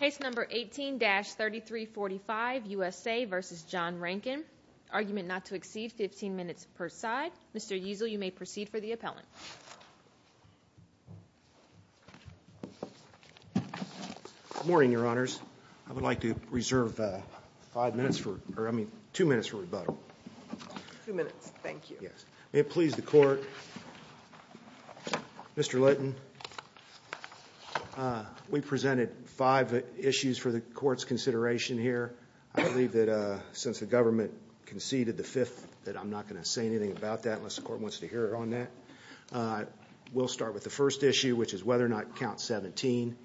Case number 18-3345, USA v. John Rankin. Argument not to exceed 15 minutes per side. Mr. Easel, you may proceed for the appellant. Good morning, Your Honors. I would like to reserve five minutes for, I mean, two minutes for rebuttal. Two minutes, thank you. May it please the Court, Mr. Litton, we presented five issues for the Court's consideration here. I believe that since the government conceded the fifth that I'm not going to say anything about that unless the Court wants to hear on that. We'll start with the first issue, which is whether or not Count 17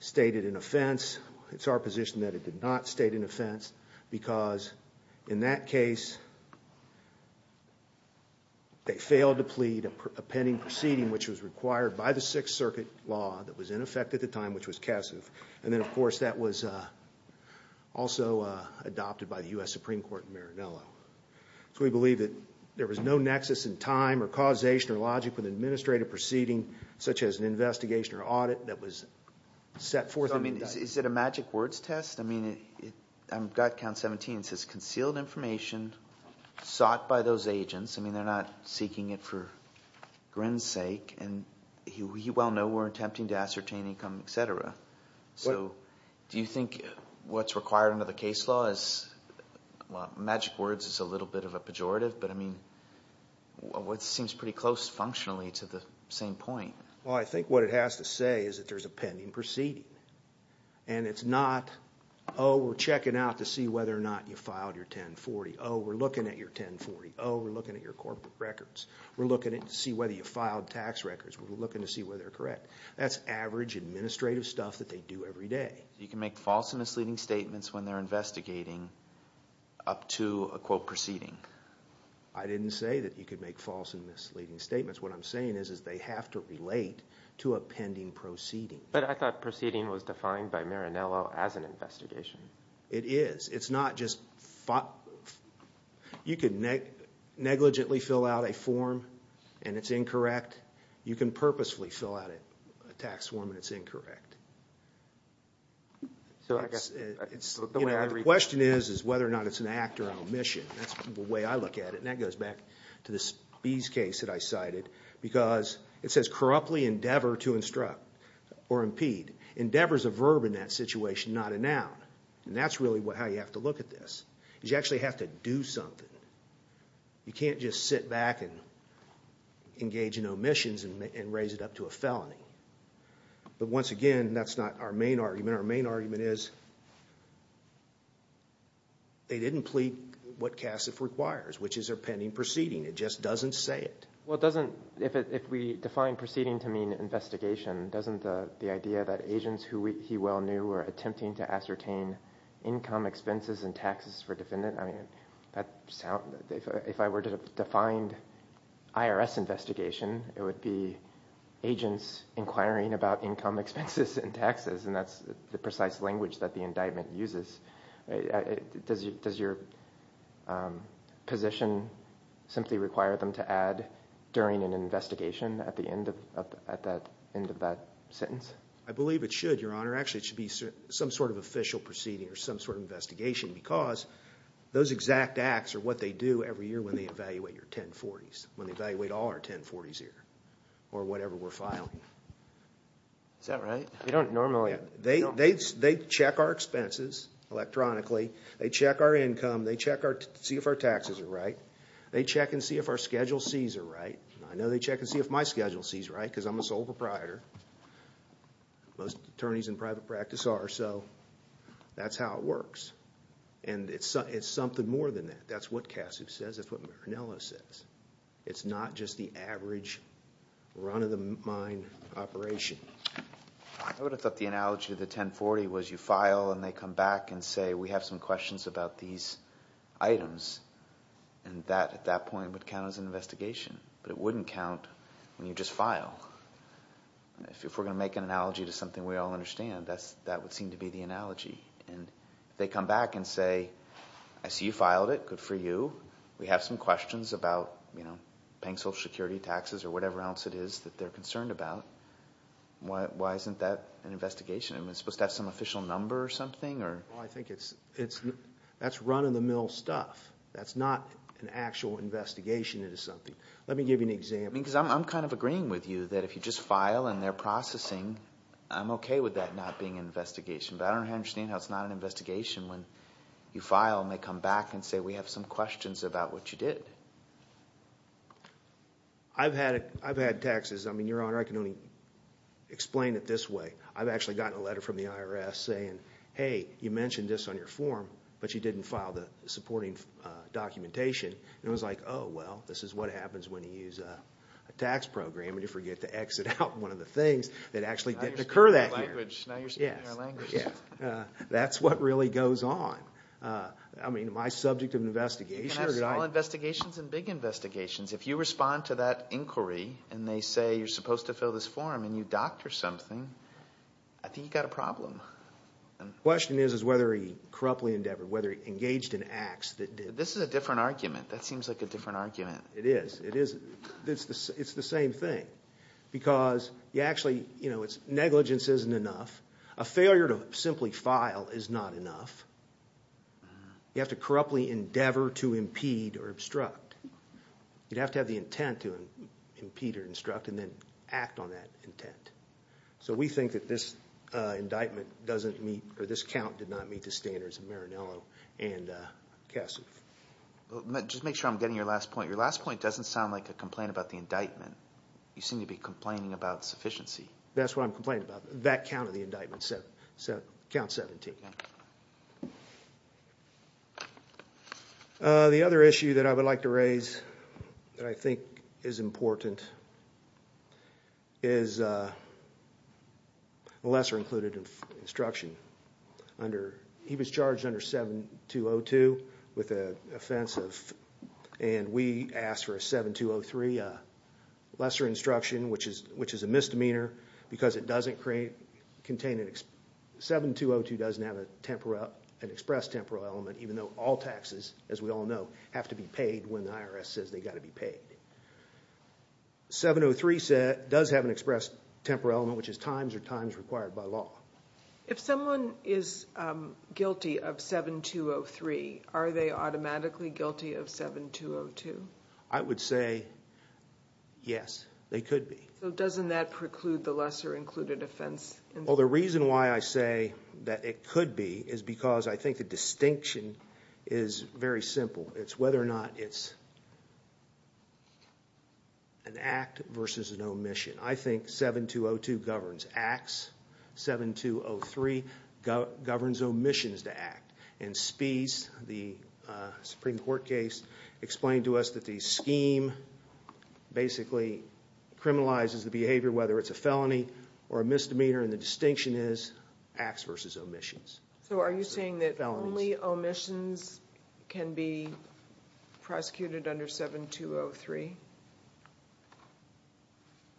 stated an offense. It's our position that it did not state an offense because in that case they failed to plead a pending proceeding which was required by the Sixth Circuit law that was in effect at the time, which was cassive. And then, of course, that was also adopted by the U.S. Supreme Court in Marinello. So we believe that there was no nexus in time or causation or logic with an administrative proceeding such as an investigation or audit that was set forth. I mean, is it a magic words test? I mean, I've got Count 17. It says concealed information sought by those agents. I mean, they're not seeking it for grins' sake. And we well know we're attempting to ascertain income, et cetera. So do you think what's required under the case law is, well, magic words is a little bit of a pejorative. But, I mean, it seems pretty close functionally to the same point. Well, I think what it has to say is that there's a pending proceeding. And it's not, oh, we're checking out to see whether or not you filed your 1040. Oh, we're looking at your 1040. Oh, we're looking at your corporate records. We're looking to see whether you filed tax records. We're looking to see whether they're correct. That's average administrative stuff that they do every day. You can make false and misleading statements when they're investigating up to a, quote, proceeding. I didn't say that you could make false and misleading statements. What I'm saying is they have to relate to a pending proceeding. But I thought proceeding was defined by Marinello as an investigation. It is. It's not just – you can negligently fill out a form and it's incorrect. You can purposefully fill out a tax form and it's incorrect. The question is whether or not it's an act or an omission. That's the way I look at it, and that goes back to this Beas case that I cited. Because it says corruptly endeavor to instruct or impede. Endeavor is a verb in that situation, not a noun. And that's really how you have to look at this is you actually have to do something. You can't just sit back and engage in omissions and raise it up to a felony. But once again, that's not our main argument. Our main argument is they didn't plead what CASIF requires, which is a pending proceeding. It just doesn't say it. Well, it doesn't – if we define proceeding to mean investigation, doesn't the idea that agents who he well knew were attempting to ascertain income, expenses, and taxes for a defendant – I mean, if I were to define IRS investigation, it would be agents inquiring about income, expenses, and taxes. And that's the precise language that the indictment uses. Does your position simply require them to add during an investigation at the end of that sentence? I believe it should, Your Honor. Actually, it should be some sort of official proceeding or some sort of investigation because those exact acts are what they do every year when they evaluate your 1040s, when they evaluate all our 1040s here or whatever we're filing. Is that right? They check our expenses electronically. They check our income. They check to see if our taxes are right. They check and see if our schedule C's are right. I know they check and see if my schedule C's are right because I'm a sole proprietor. Most attorneys in private practice are, so that's how it works. And it's something more than that. That's what Cassius says. That's what Marinello says. It's not just the average run-of-the-mind operation. I would have thought the analogy of the 1040 was you file and they come back and say, we have some questions about these items, and that at that point would count as an investigation. But it wouldn't count when you just file. If we're going to make an analogy to something we all understand, that would seem to be the analogy. They come back and say, I see you filed it. Good for you. We have some questions about paying Social Security taxes or whatever else it is that they're concerned about. Why isn't that an investigation? Is it supposed to have some official number or something? I think that's run-of-the-mill stuff. That's not an actual investigation into something. Let me give you an example. Because I'm kind of agreeing with you that if you just file and they're processing, I'm okay with that not being an investigation. But I don't understand how it's not an investigation when you file and they come back and say, we have some questions about what you did. I've had taxes. I mean, Your Honor, I can only explain it this way. I've actually gotten a letter from the IRS saying, hey, you mentioned this on your form, but you didn't file the supporting documentation. And it was like, oh, well, this is what happens when you use a tax program and you forget to exit out one of the things that actually didn't occur that year. Now you're speaking our language. That's what really goes on. I mean, am I subject of an investigation? You can have small investigations and big investigations. If you respond to that inquiry and they say you're supposed to fill this form and you doctor something, I think you've got a problem. The question is whether he corruptly endeavored, whether he engaged in acts that did. This is a different argument. That seems like a different argument. It is. It's the same thing. Because you actually, you know, negligence isn't enough. A failure to simply file is not enough. You have to corruptly endeavor to impede or obstruct. You'd have to have the intent to impede or obstruct and then act on that intent. So we think that this indictment doesn't meet or this count did not meet the standards of Marinello and Cassidy. Just to make sure I'm getting your last point. Your last point doesn't sound like a complaint about the indictment. You seem to be complaining about sufficiency. That's what I'm complaining about. That counted the indictment, count 17. The other issue that I would like to raise that I think is important is a lesser included instruction. He was charged under 7202 with an offensive and we asked for a 7203 lesser instruction, which is a misdemeanor because it doesn't contain, 7202 doesn't have an express temporal element even though all taxes, as we all know, have to be paid when the IRS says they've got to be paid. 703 does have an express temporal element, which is times or times required by law. If someone is guilty of 7203, are they automatically guilty of 7202? I would say yes, they could be. So doesn't that preclude the lesser included offense? Well, the reason why I say that it could be is because I think the distinction is very simple. It's whether or not it's an act versus an omission. I think 7202 governs acts, 7203 governs omissions to act. And Spies, the Supreme Court case, explained to us that the scheme basically criminalizes the behavior whether it's a felony or a misdemeanor and the distinction is acts versus omissions. So are you saying that only omissions can be prosecuted under 7203?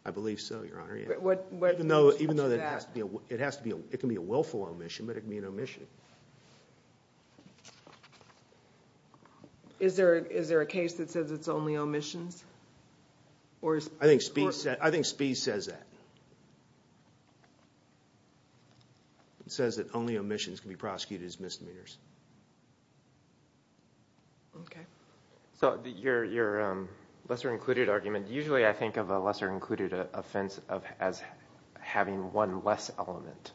I believe so, Your Honor. Even though it can be a willful omission, but it can be an omission. Is there a case that says it's only omissions? I think Spies says that. It says that only omissions can be prosecuted as misdemeanors. Okay. So your lesser included argument, usually I think of a lesser included offense as having one less element.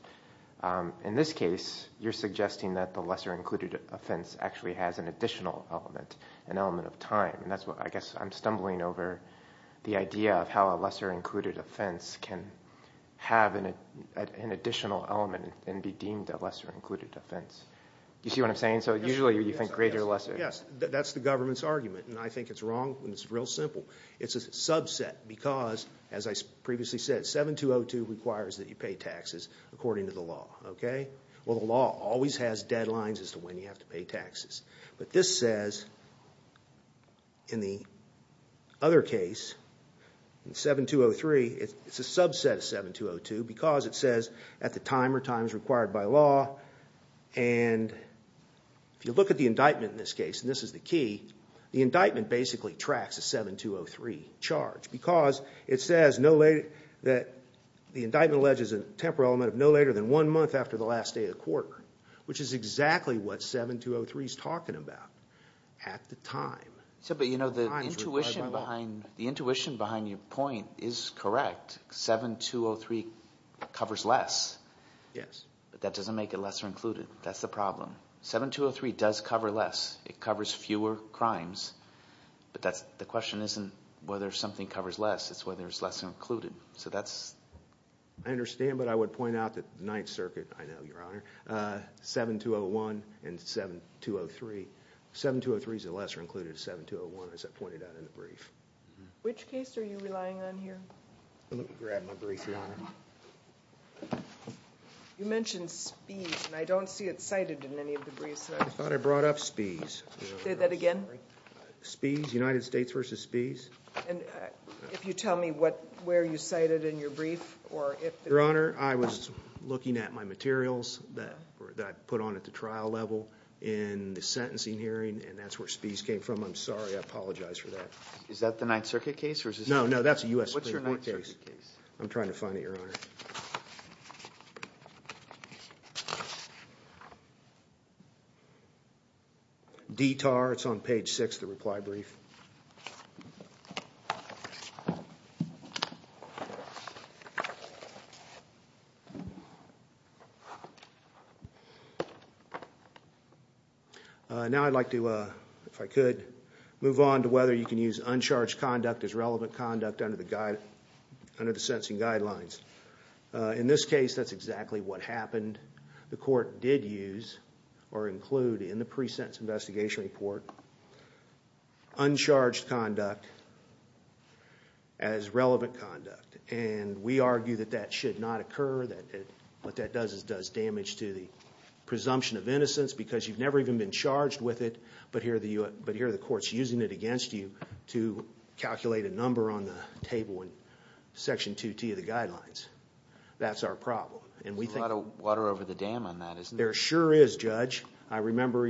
In this case, you're suggesting that the lesser included offense actually has an additional element, an element of time. I guess I'm stumbling over the idea of how a lesser included offense can have an additional element and be deemed a lesser included offense. Do you see what I'm saying? So usually you think greater or lesser. Yes, that's the government's argument, and I think it's wrong and it's real simple. It's a subset because, as I previously said, 7202 requires that you pay taxes according to the law, okay? Well, the law always has deadlines as to when you have to pay taxes. But this says, in the other case, in 7203, it's a subset of 7202 because it says at the time or times required by law. And if you look at the indictment in this case, and this is the key, the indictment basically tracks a 7203 charge because it says that the indictment alleges a temporal element of no later than one month after the last day of the quarter, which is exactly what 7203 is talking about at the time. But the intuition behind your point is correct. 7203 covers less. Yes. But that doesn't make it lesser included. That's the problem. 7203 does cover less. It covers fewer crimes. But the question isn't whether something covers less. It's whether it's lesser included. I understand, but I would point out that the Ninth Circuit, I know, Your Honor, 7201 and 7203. 7203 is a lesser included of 7201, as I pointed out in the brief. Which case are you relying on here? Let me grab my brief, Your Honor. You mentioned Spies, and I don't see it cited in any of the briefs. I thought I brought up Spies. Say that again? Spies, United States v. Spies. And if you tell me where you cite it in your brief or if there is. Your Honor, I was looking at my materials that I put on at the trial level in the sentencing hearing, and that's where Spies came from. I'm sorry. I apologize for that. Is that the Ninth Circuit case? No, no. That's a U.S. Supreme Court case. What's your Ninth Circuit case? I'm trying to find it, Your Honor. DTAR, it's on page 6 of the reply brief. Now I'd like to, if I could, move on to whether you can use uncharged conduct as relevant conduct under the sentencing guidelines. In this case, that's exactly what happened. The court did use or include in the pre-sentence investigation report uncharged conduct as relevant conduct. And we argue that that should not occur. What that does is it does damage to the presumption of innocence because you've never even been charged with it, but here the court's using it against you to calculate a number on the table in Section 2T of the guidelines. That's our problem. There's a lot of water over the dam on that, isn't there? There sure is, Judge. I remember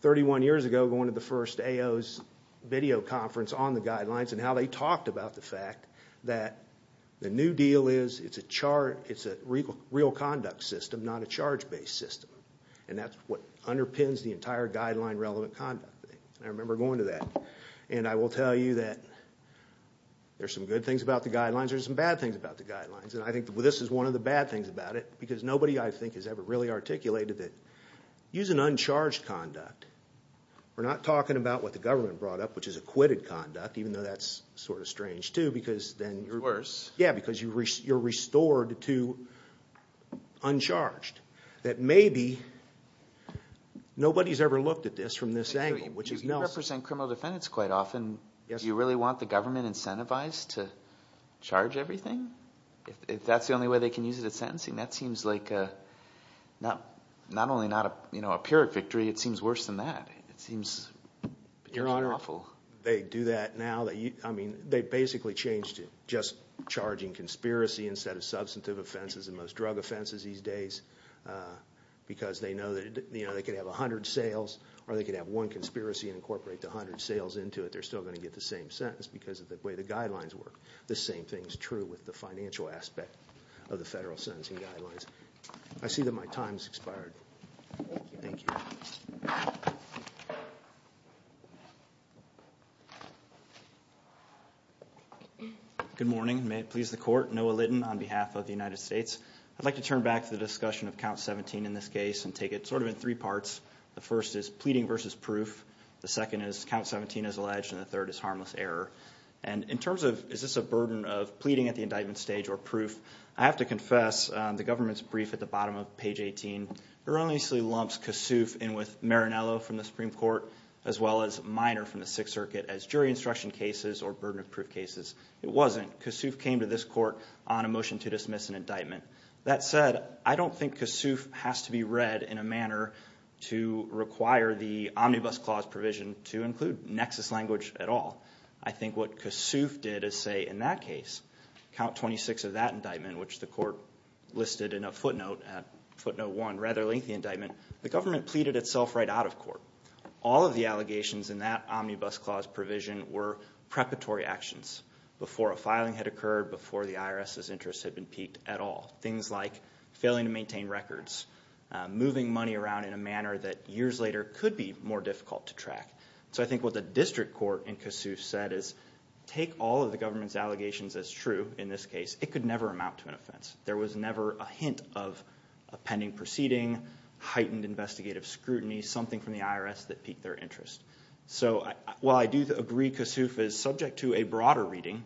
31 years ago going to the first AO's video conference on the guidelines and how they talked about the fact that the new deal is it's a real conduct system, not a charge-based system. And that's what underpins the entire guideline relevant conduct thing. I remember going to that. And I will tell you that there's some good things about the guidelines. There's some bad things about the guidelines. And I think this is one of the bad things about it because nobody, I think, has ever really articulated that using uncharged conduct, we're not talking about what the government brought up, which is acquitted conduct, even though that's sort of strange too because then you're It's worse. Yeah, because you're restored to uncharged. That maybe nobody's ever looked at this from this angle, which is Nelson. You represent criminal defendants quite often. Do you really want the government incentivized to charge everything? If that's the only way they can use it at sentencing. That seems like not only not a pyrrhic victory, it seems worse than that. It seems particularly unlawful. They do that now. I mean, they basically changed it. Just charging conspiracy instead of substantive offenses, the most drug offenses these days because they know that they could have 100 sales or they could have one conspiracy and incorporate the 100 sales into it. They're still going to get the same sentence because of the way the guidelines work. The same thing is true with the financial aspect of the federal sentencing guidelines. I see that my time has expired. Thank you. Good morning. May it please the court. Noah Litton on behalf of the United States. I'd like to turn back to the discussion of Count 17 in this case and take it sort of in three parts. The first is pleading versus proof. The second is Count 17 as alleged, and the third is harmless error. In terms of is this a burden of pleading at the indictment stage or proof, I have to confess the government's brief at the bottom of page 18 erroneously lumps Kasuf in with Marinello from the Supreme Court as well as Minor from the Sixth Circuit as jury instruction cases or burden of proof cases. It wasn't. Kasuf came to this court on a motion to dismiss an indictment. That said, I don't think Kasuf has to be read in a manner to require the omnibus clause provision to include nexus language at all. I think what Kasuf did is say in that case, Count 26 of that indictment, which the court listed in a footnote at footnote one, rather lengthy indictment, the government pleaded itself right out of court. All of the allegations in that omnibus clause provision were preparatory actions before a filing had occurred, before the IRS's interest had been piqued at all. Things like failing to maintain records, moving money around in a manner that years later could be more difficult to track. So I think what the district court in Kasuf said is take all of the government's allegations as true in this case. It could never amount to an offense. There was never a hint of a pending proceeding, heightened investigative scrutiny, something from the IRS that piqued their interest. So while I do agree Kasuf is subject to a broader reading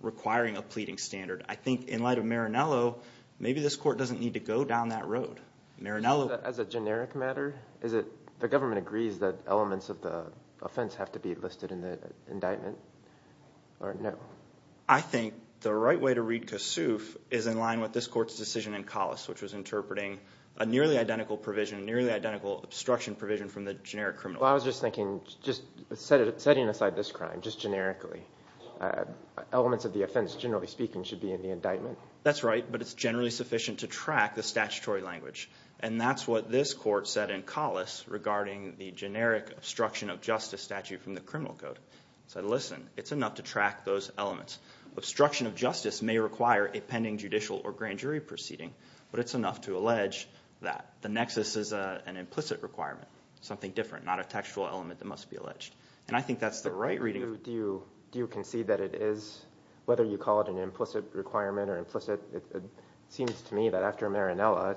requiring a pleading standard, I think in light of Marinello, maybe this court doesn't need to go down that road. As a generic matter, is it the government agrees that elements of the offense have to be listed in the indictment, or no? I think the right way to read Kasuf is in line with this court's decision in Collis, which was interpreting a nearly identical obstruction provision from the generic criminal code. I was just thinking, setting aside this crime, just generically, elements of the offense, generally speaking, should be in the indictment. That's right, but it's generally sufficient to track the statutory language. And that's what this court said in Collis regarding the generic obstruction of justice statute from the criminal code. It said, listen, it's enough to track those elements. Obstruction of justice may require a pending judicial or grand jury proceeding, but it's enough to allege that the nexus is an implicit requirement, something different, not a textual element that must be alleged. And I think that's the right reading. Do you concede that it is, whether you call it an implicit requirement or implicit, it seems to me that after Marinello,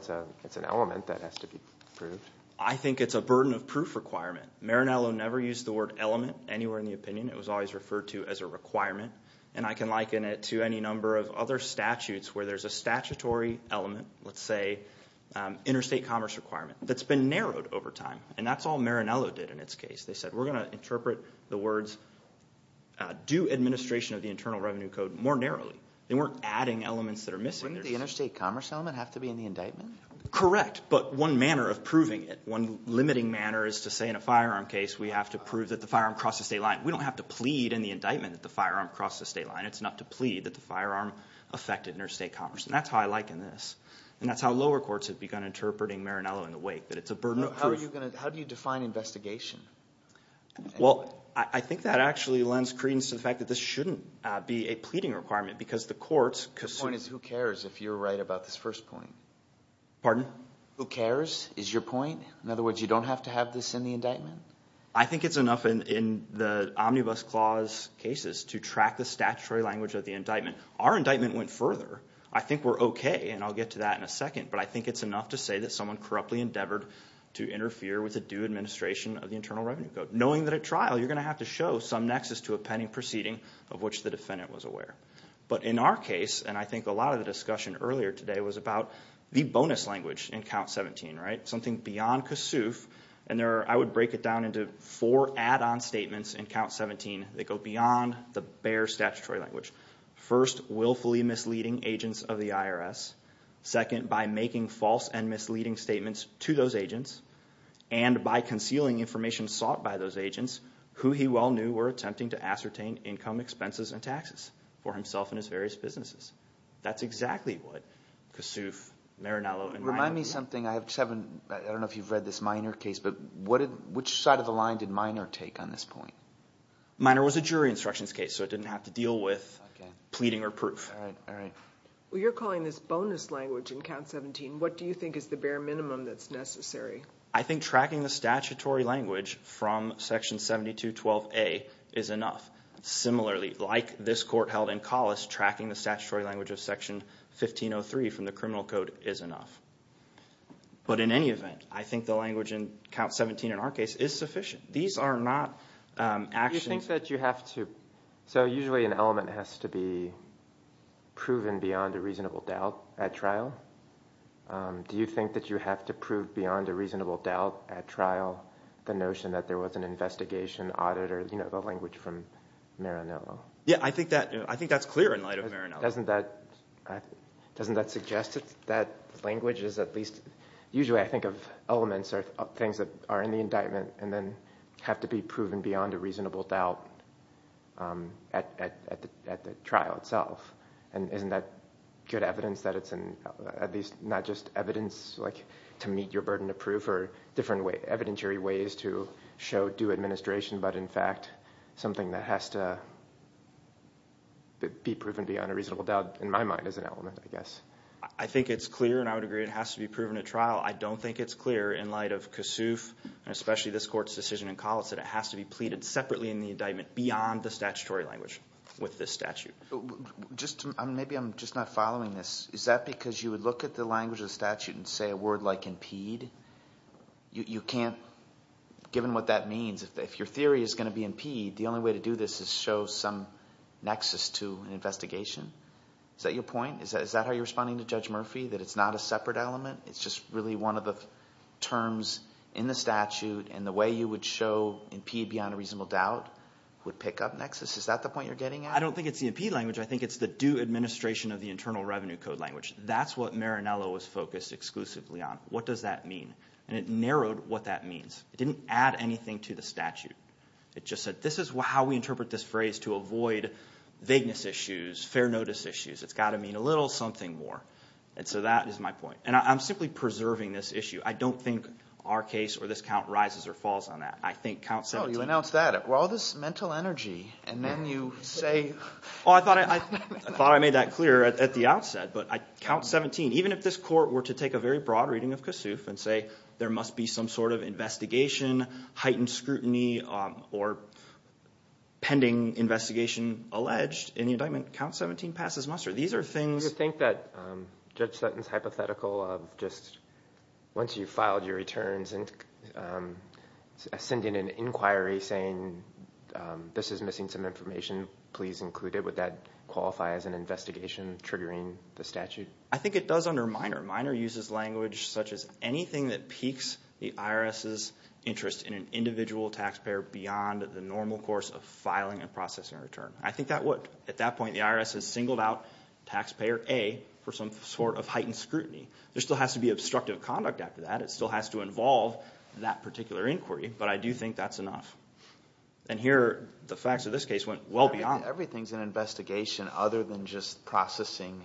it's an element that has to be proved. I think it's a burden of proof requirement. Marinello never used the word element anywhere in the opinion. It was always referred to as a requirement. And I can liken it to any number of other statutes where there's a statutory element, let's say interstate commerce requirement, that's been narrowed over time. And that's all Marinello did in its case. They said we're going to interpret the words due administration of the Internal Revenue Code more narrowly. They weren't adding elements that are missing. Wouldn't the interstate commerce element have to be in the indictment? Correct, but one manner of proving it, one limiting manner is to say in a firearm case we have to prove that the firearm crossed the state line. We don't have to plead in the indictment that the firearm crossed the state line. It's enough to plead that the firearm affected interstate commerce. And that's how I liken this. And that's how lower courts have begun interpreting Marinello in the wake, that it's a burden of proof. How do you define investigation? Well, I think that actually lends credence to the fact that this shouldn't be a pleading requirement because the courts could— The point is who cares if you're right about this first point? Pardon? Who cares is your point? In other words, you don't have to have this in the indictment? I think it's enough in the Omnibus Clause cases to track the statutory language of the indictment. Our indictment went further. I think we're okay, and I'll get to that in a second. But I think it's enough to say that someone corruptly endeavored to interfere with the due administration of the Internal Revenue Code. Knowing that at trial you're going to have to show some nexus to a pending proceeding of which the defendant was aware. But in our case, and I think a lot of the discussion earlier today was about the bonus language in Count 17, right? It goes something beyond Kossuth, and I would break it down into four add-on statements in Count 17. They go beyond the bare statutory language. First, willfully misleading agents of the IRS. Second, by making false and misleading statements to those agents. And by concealing information sought by those agents who he well knew were attempting to ascertain income, expenses, and taxes for himself and his various businesses. That's exactly what Kossuth, Marinello— Remind me something. I don't know if you've read this Minor case, but which side of the line did Minor take on this point? Minor was a jury instructions case, so it didn't have to deal with pleading or proof. All right, all right. Well, you're calling this bonus language in Count 17. What do you think is the bare minimum that's necessary? I think tracking the statutory language from Section 7212A is enough. Similarly, like this court held in Collis, tracking the statutory language of Section 1503 from the criminal code is enough. But in any event, I think the language in Count 17 in our case is sufficient. These are not actions— Do you think that you have to—so usually an element has to be proven beyond a reasonable doubt at trial. Do you think that you have to prove beyond a reasonable doubt at trial the notion that there was an investigation, audit, or the language from Marinello? Yeah, I think that's clear in light of Marinello. Doesn't that suggest that language is at least—usually I think of elements or things that are in the indictment and then have to be proven beyond a reasonable doubt at the trial itself. And isn't that good evidence that it's at least not just evidence to meet your burden of proof or different evidentiary ways to show due administration, but in fact something that has to be proven beyond a reasonable doubt in my mind as an element, I guess. I think it's clear, and I would agree it has to be proven at trial. I don't think it's clear in light of Kossuth and especially this court's decision in Collis that it has to be pleaded separately in the indictment beyond the statutory language with this statute. Maybe I'm just not following this. Is that because you would look at the language of the statute and say a word like impede? You can't, given what that means, if your theory is going to be impede, the only way to do this is show some nexus to an investigation? Is that your point? Is that how you're responding to Judge Murphy, that it's not a separate element? It's just really one of the terms in the statute, and the way you would show impede beyond a reasonable doubt would pick up nexus? Is that the point you're getting at? Well, I don't think it's the impede language. I think it's the due administration of the Internal Revenue Code language. That's what Marinello was focused exclusively on. What does that mean? And it narrowed what that means. It didn't add anything to the statute. It just said this is how we interpret this phrase to avoid vagueness issues, fair notice issues. It's got to mean a little something more. And so that is my point. And I'm simply preserving this issue. I don't think our case or this count rises or falls on that. I think count 17. Well, you announced that. All this mental energy, and then you say. Oh, I thought I made that clear at the outset. But count 17, even if this court were to take a very broad reading of Kossuth and say there must be some sort of investigation, heightened scrutiny, or pending investigation alleged in the indictment, count 17 passes muster. Do you think that Judge Sutton's hypothetical of just once you filed your returns and send in an inquiry saying this is missing some information, please include it, would that qualify as an investigation triggering the statute? I think it does under minor. Minor uses language such as anything that piques the IRS's interest in an individual taxpayer beyond the normal course of filing and processing a return. I think that would. At that point, the IRS has singled out taxpayer A for some sort of heightened scrutiny. There still has to be obstructive conduct after that. It still has to involve that particular inquiry, but I do think that's enough. And here the facts of this case went well beyond that. Everything is an investigation other than just processing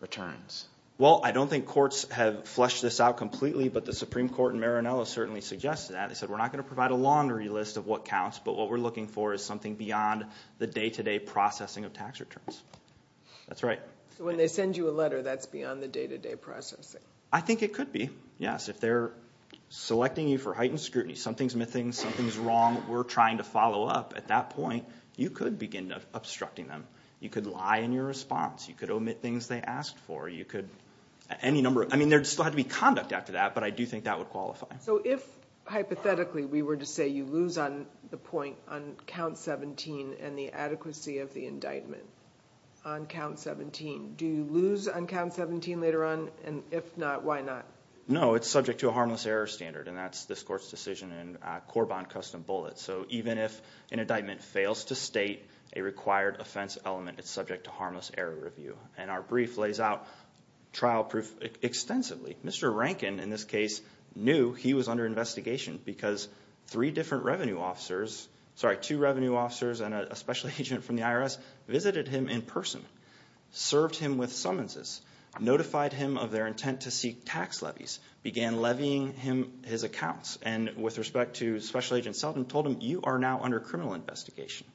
returns. Well, I don't think courts have fleshed this out completely, but the Supreme Court in Maranello certainly suggested that. They said we're not going to provide a laundry list of what counts, but what we're looking for is something beyond the day-to-day processing of tax returns. That's right. So when they send you a letter, that's beyond the day-to-day processing? I think it could be, yes. If they're selecting you for heightened scrutiny, something's missing, something's wrong, we're trying to follow up. At that point, you could begin obstructing them. You could lie in your response. You could omit things they asked for. You could – any number – I mean there still had to be conduct after that, but I do think that would qualify. So if, hypothetically, we were to say you lose on the point on count 17 and the adequacy of the indictment on count 17, do you lose on count 17 later on? And if not, why not? No, it's subject to a harmless error standard, and that's this court's decision in Corban Custom Bullets. So even if an indictment fails to state a required offense element, it's subject to harmless error review. And our brief lays out trial proof extensively. Mr. Rankin, in this case, knew he was under investigation because three different revenue officers – sorry, two revenue officers and a special agent from the IRS visited him in person, served him with summonses, notified him of their intent to seek tax levies, began levying him his accounts, and with respect to Special Agent Selden, told him, you are now under criminal investigation.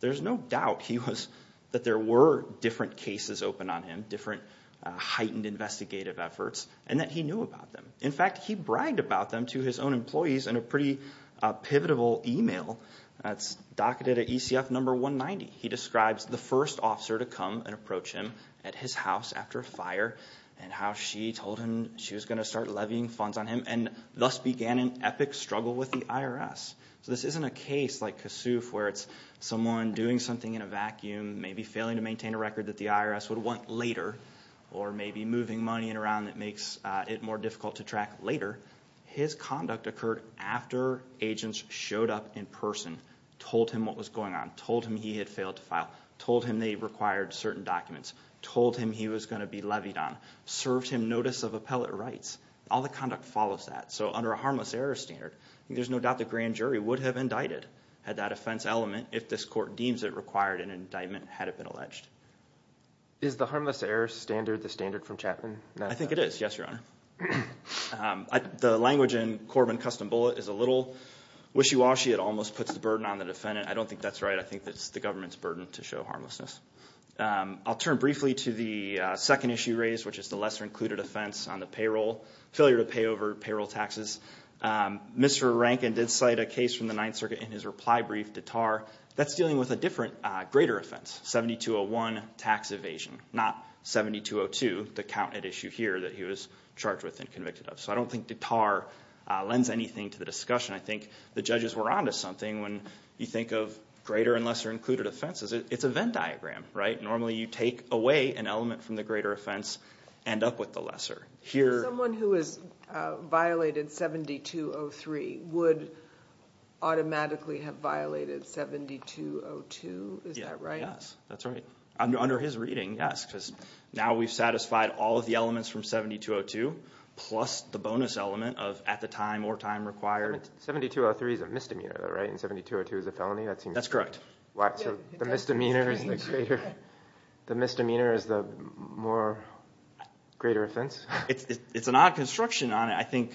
There's no doubt he was – that there were different cases open on him, different heightened investigative efforts, and that he knew about them. In fact, he bragged about them to his own employees in a pretty pivotable email. That's docketed at ECF number 190. He describes the first officer to come and approach him at his house after a fire and how she told him she was going to start levying funds on him So this isn't a case like Kasuf where it's someone doing something in a vacuum, maybe failing to maintain a record that the IRS would want later, or maybe moving money around that makes it more difficult to track later. His conduct occurred after agents showed up in person, told him what was going on, told him he had failed to file, told him they required certain documents, told him he was going to be levied on, served him notice of appellate rights. All the conduct follows that. So under a harmless error standard, there's no doubt the grand jury would have indicted had that offense element, if this court deems it required an indictment had it been alleged. Is the harmless error standard the standard from Chapman? I think it is, yes, Your Honor. The language in Corbin Custom Bullet is a little wishy-washy. It almost puts the burden on the defendant. I don't think that's right. I think it's the government's burden to show harmlessness. I'll turn briefly to the second issue raised, which is the lesser-included offense on the payroll, failure to pay over payroll taxes. Mr. Rankin did cite a case from the Ninth Circuit in his reply brief, Dittar, that's dealing with a different, greater offense, 7201 tax evasion, not 7202, the count it issued here that he was charged with and convicted of. So I don't think Dittar lends anything to the discussion. I think the judges were on to something when you think of greater and lesser-included offenses. It's a Venn diagram, right? Normally you take away an element from the greater offense, end up with the lesser. Someone who has violated 7203 would automatically have violated 7202, is that right? Yes, that's right. Under his reading, yes, because now we've satisfied all of the elements from 7202, plus the bonus element of at the time or time required. 7203 is a misdemeanor, right, and 7202 is a felony? That's correct. So the misdemeanor is the greater offense? It's an odd construction on it.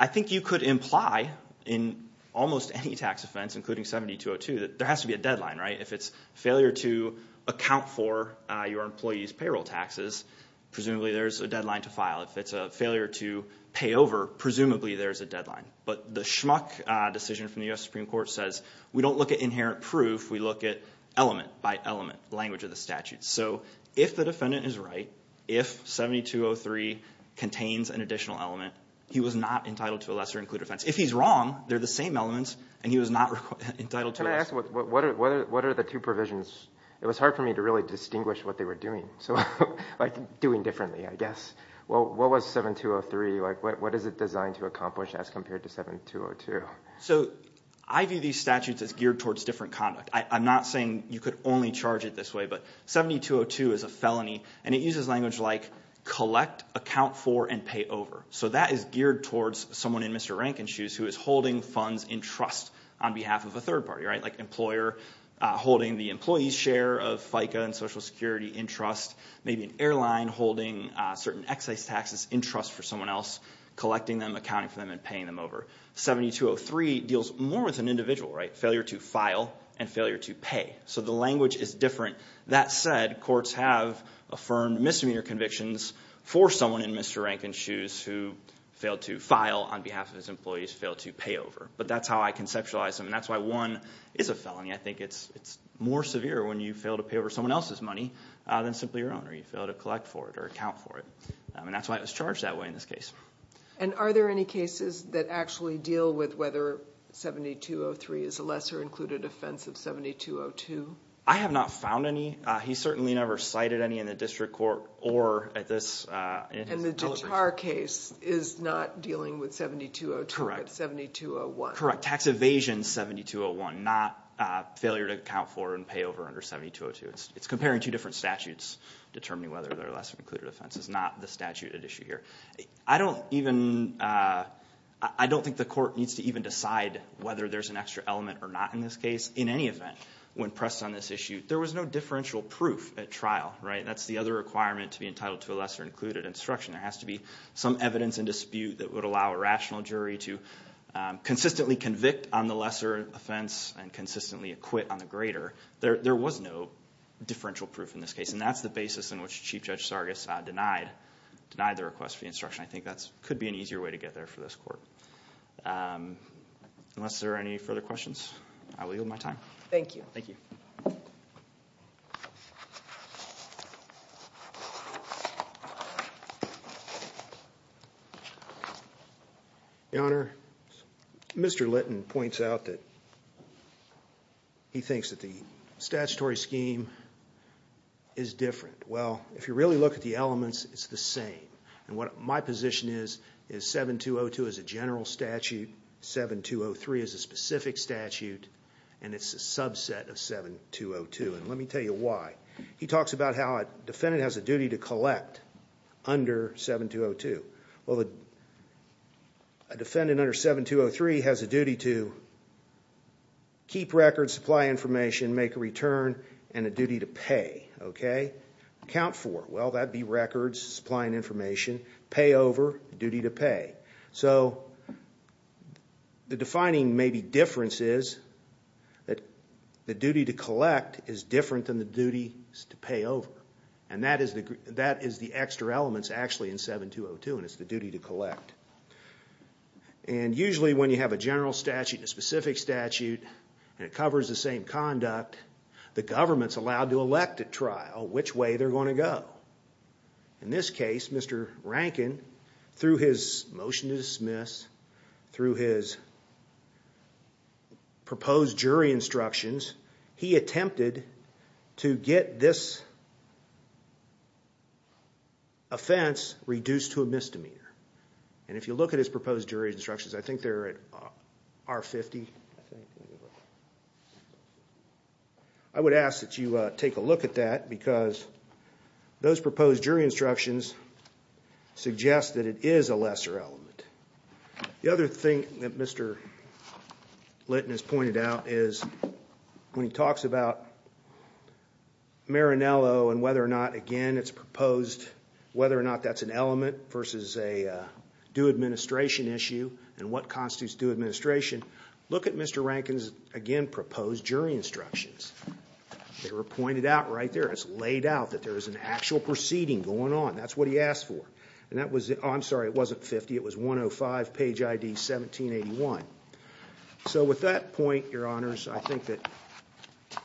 I think you could imply in almost any tax offense, including 7202, that there has to be a deadline, right? If it's failure to account for your employee's payroll taxes, presumably there's a deadline to file. If it's a failure to pay over, presumably there's a deadline. But the Schmuck decision from the U.S. Supreme Court says we don't look at inherent proof, we look at element by element, language of the statute. So if the defendant is right, if 7203 contains an additional element, he was not entitled to a lesser-included offense. If he's wrong, they're the same elements, and he was not entitled to it. Can I ask what are the two provisions? It was hard for me to really distinguish what they were doing, like doing differently, I guess. What was 7203? What is it designed to accomplish as compared to 7202? So I view these statutes as geared towards different conduct. I'm not saying you could only charge it this way, but 7202 is a felony, and it uses language like collect, account for, and pay over. So that is geared towards someone in Mr. Rankin's shoes who is holding funds in trust on behalf of a third party, like an employer holding the employee's share of FICA and Social Security in trust, maybe an airline holding certain excise taxes in trust for someone else, collecting them, accounting for them, and paying them over. 7203 deals more with an individual, failure to file and failure to pay. So the language is different. That said, courts have affirmed misdemeanor convictions for someone in Mr. Rankin's shoes who failed to file on behalf of his employees, failed to pay over. But that's how I conceptualize them, and that's why one is a felony. I think it's more severe when you fail to pay over someone else's money than simply your own, or you fail to collect for it or account for it. And that's why it was charged that way in this case. And are there any cases that actually deal with whether 7203 is a lesser included offense of 7202? I have not found any. He certainly never cited any in the district court or at this deliberation. And the Datar case is not dealing with 7202 but 7201. Correct. Tax evasion 7201, not failure to account for and pay over under 7202. It's comparing two different statutes, determining whether they're a lesser included offense is not the statute at issue here. I don't think the court needs to even decide whether there's an extra element or not in this case. In any event, when pressed on this issue, there was no differential proof at trial. That's the other requirement to be entitled to a lesser included instruction. There has to be some evidence in dispute that would allow a rational jury to consistently convict on the lesser offense and consistently acquit on the greater. There was no differential proof in this case, and that's the basis in which Chief Judge Sargis denied the request for the instruction. I think that could be an easier way to get there for this court. Unless there are any further questions, I will yield my time. Thank you. Thank you. Your Honor, Mr. Litton points out that he thinks that the statutory scheme is different. Well, if you really look at the elements, it's the same. My position is 7202 is a general statute, 7203 is a specific statute, and it's a subset of 7202. Let me tell you why. He talks about how a defendant has a duty to collect under 7202. A defendant under 7203 has a duty to keep records, supply information, make a return, and a duty to pay. Account for it. Well, that would be records, supplying information, pay over, duty to pay. So the defining maybe difference is that the duty to collect is different than the duty to pay over, and that is the extra element actually in 7202, and it's the duty to collect. And usually when you have a general statute and a specific statute and it covers the same conduct, the government's allowed to elect at trial which way they're going to go. In this case, Mr. Rankin, through his motion to dismiss, through his proposed jury instructions, he attempted to get this offense reduced to a misdemeanor. And if you look at his proposed jury instructions, I think they're at R50. I would ask that you take a look at that because those proposed jury instructions suggest that it is a lesser element. The other thing that Mr. Litton has pointed out is when he talks about Maranello and whether or not, again, it's proposed, whether or not that's an element versus a due administration issue and what constitutes due administration, look at Mr. Rankin's, again, proposed jury instructions. They were pointed out right there. It's laid out that there is an actual proceeding going on. That's what he asked for. And that was the – oh, I'm sorry, it wasn't 50. It was 105, page ID 1781. So with that point, Your Honors, I think that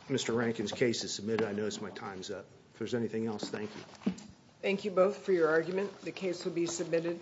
Mr. Rankin's case is submitted. I notice my time's up. If there's anything else, thank you. Thank you both for your argument. The case will be submitted.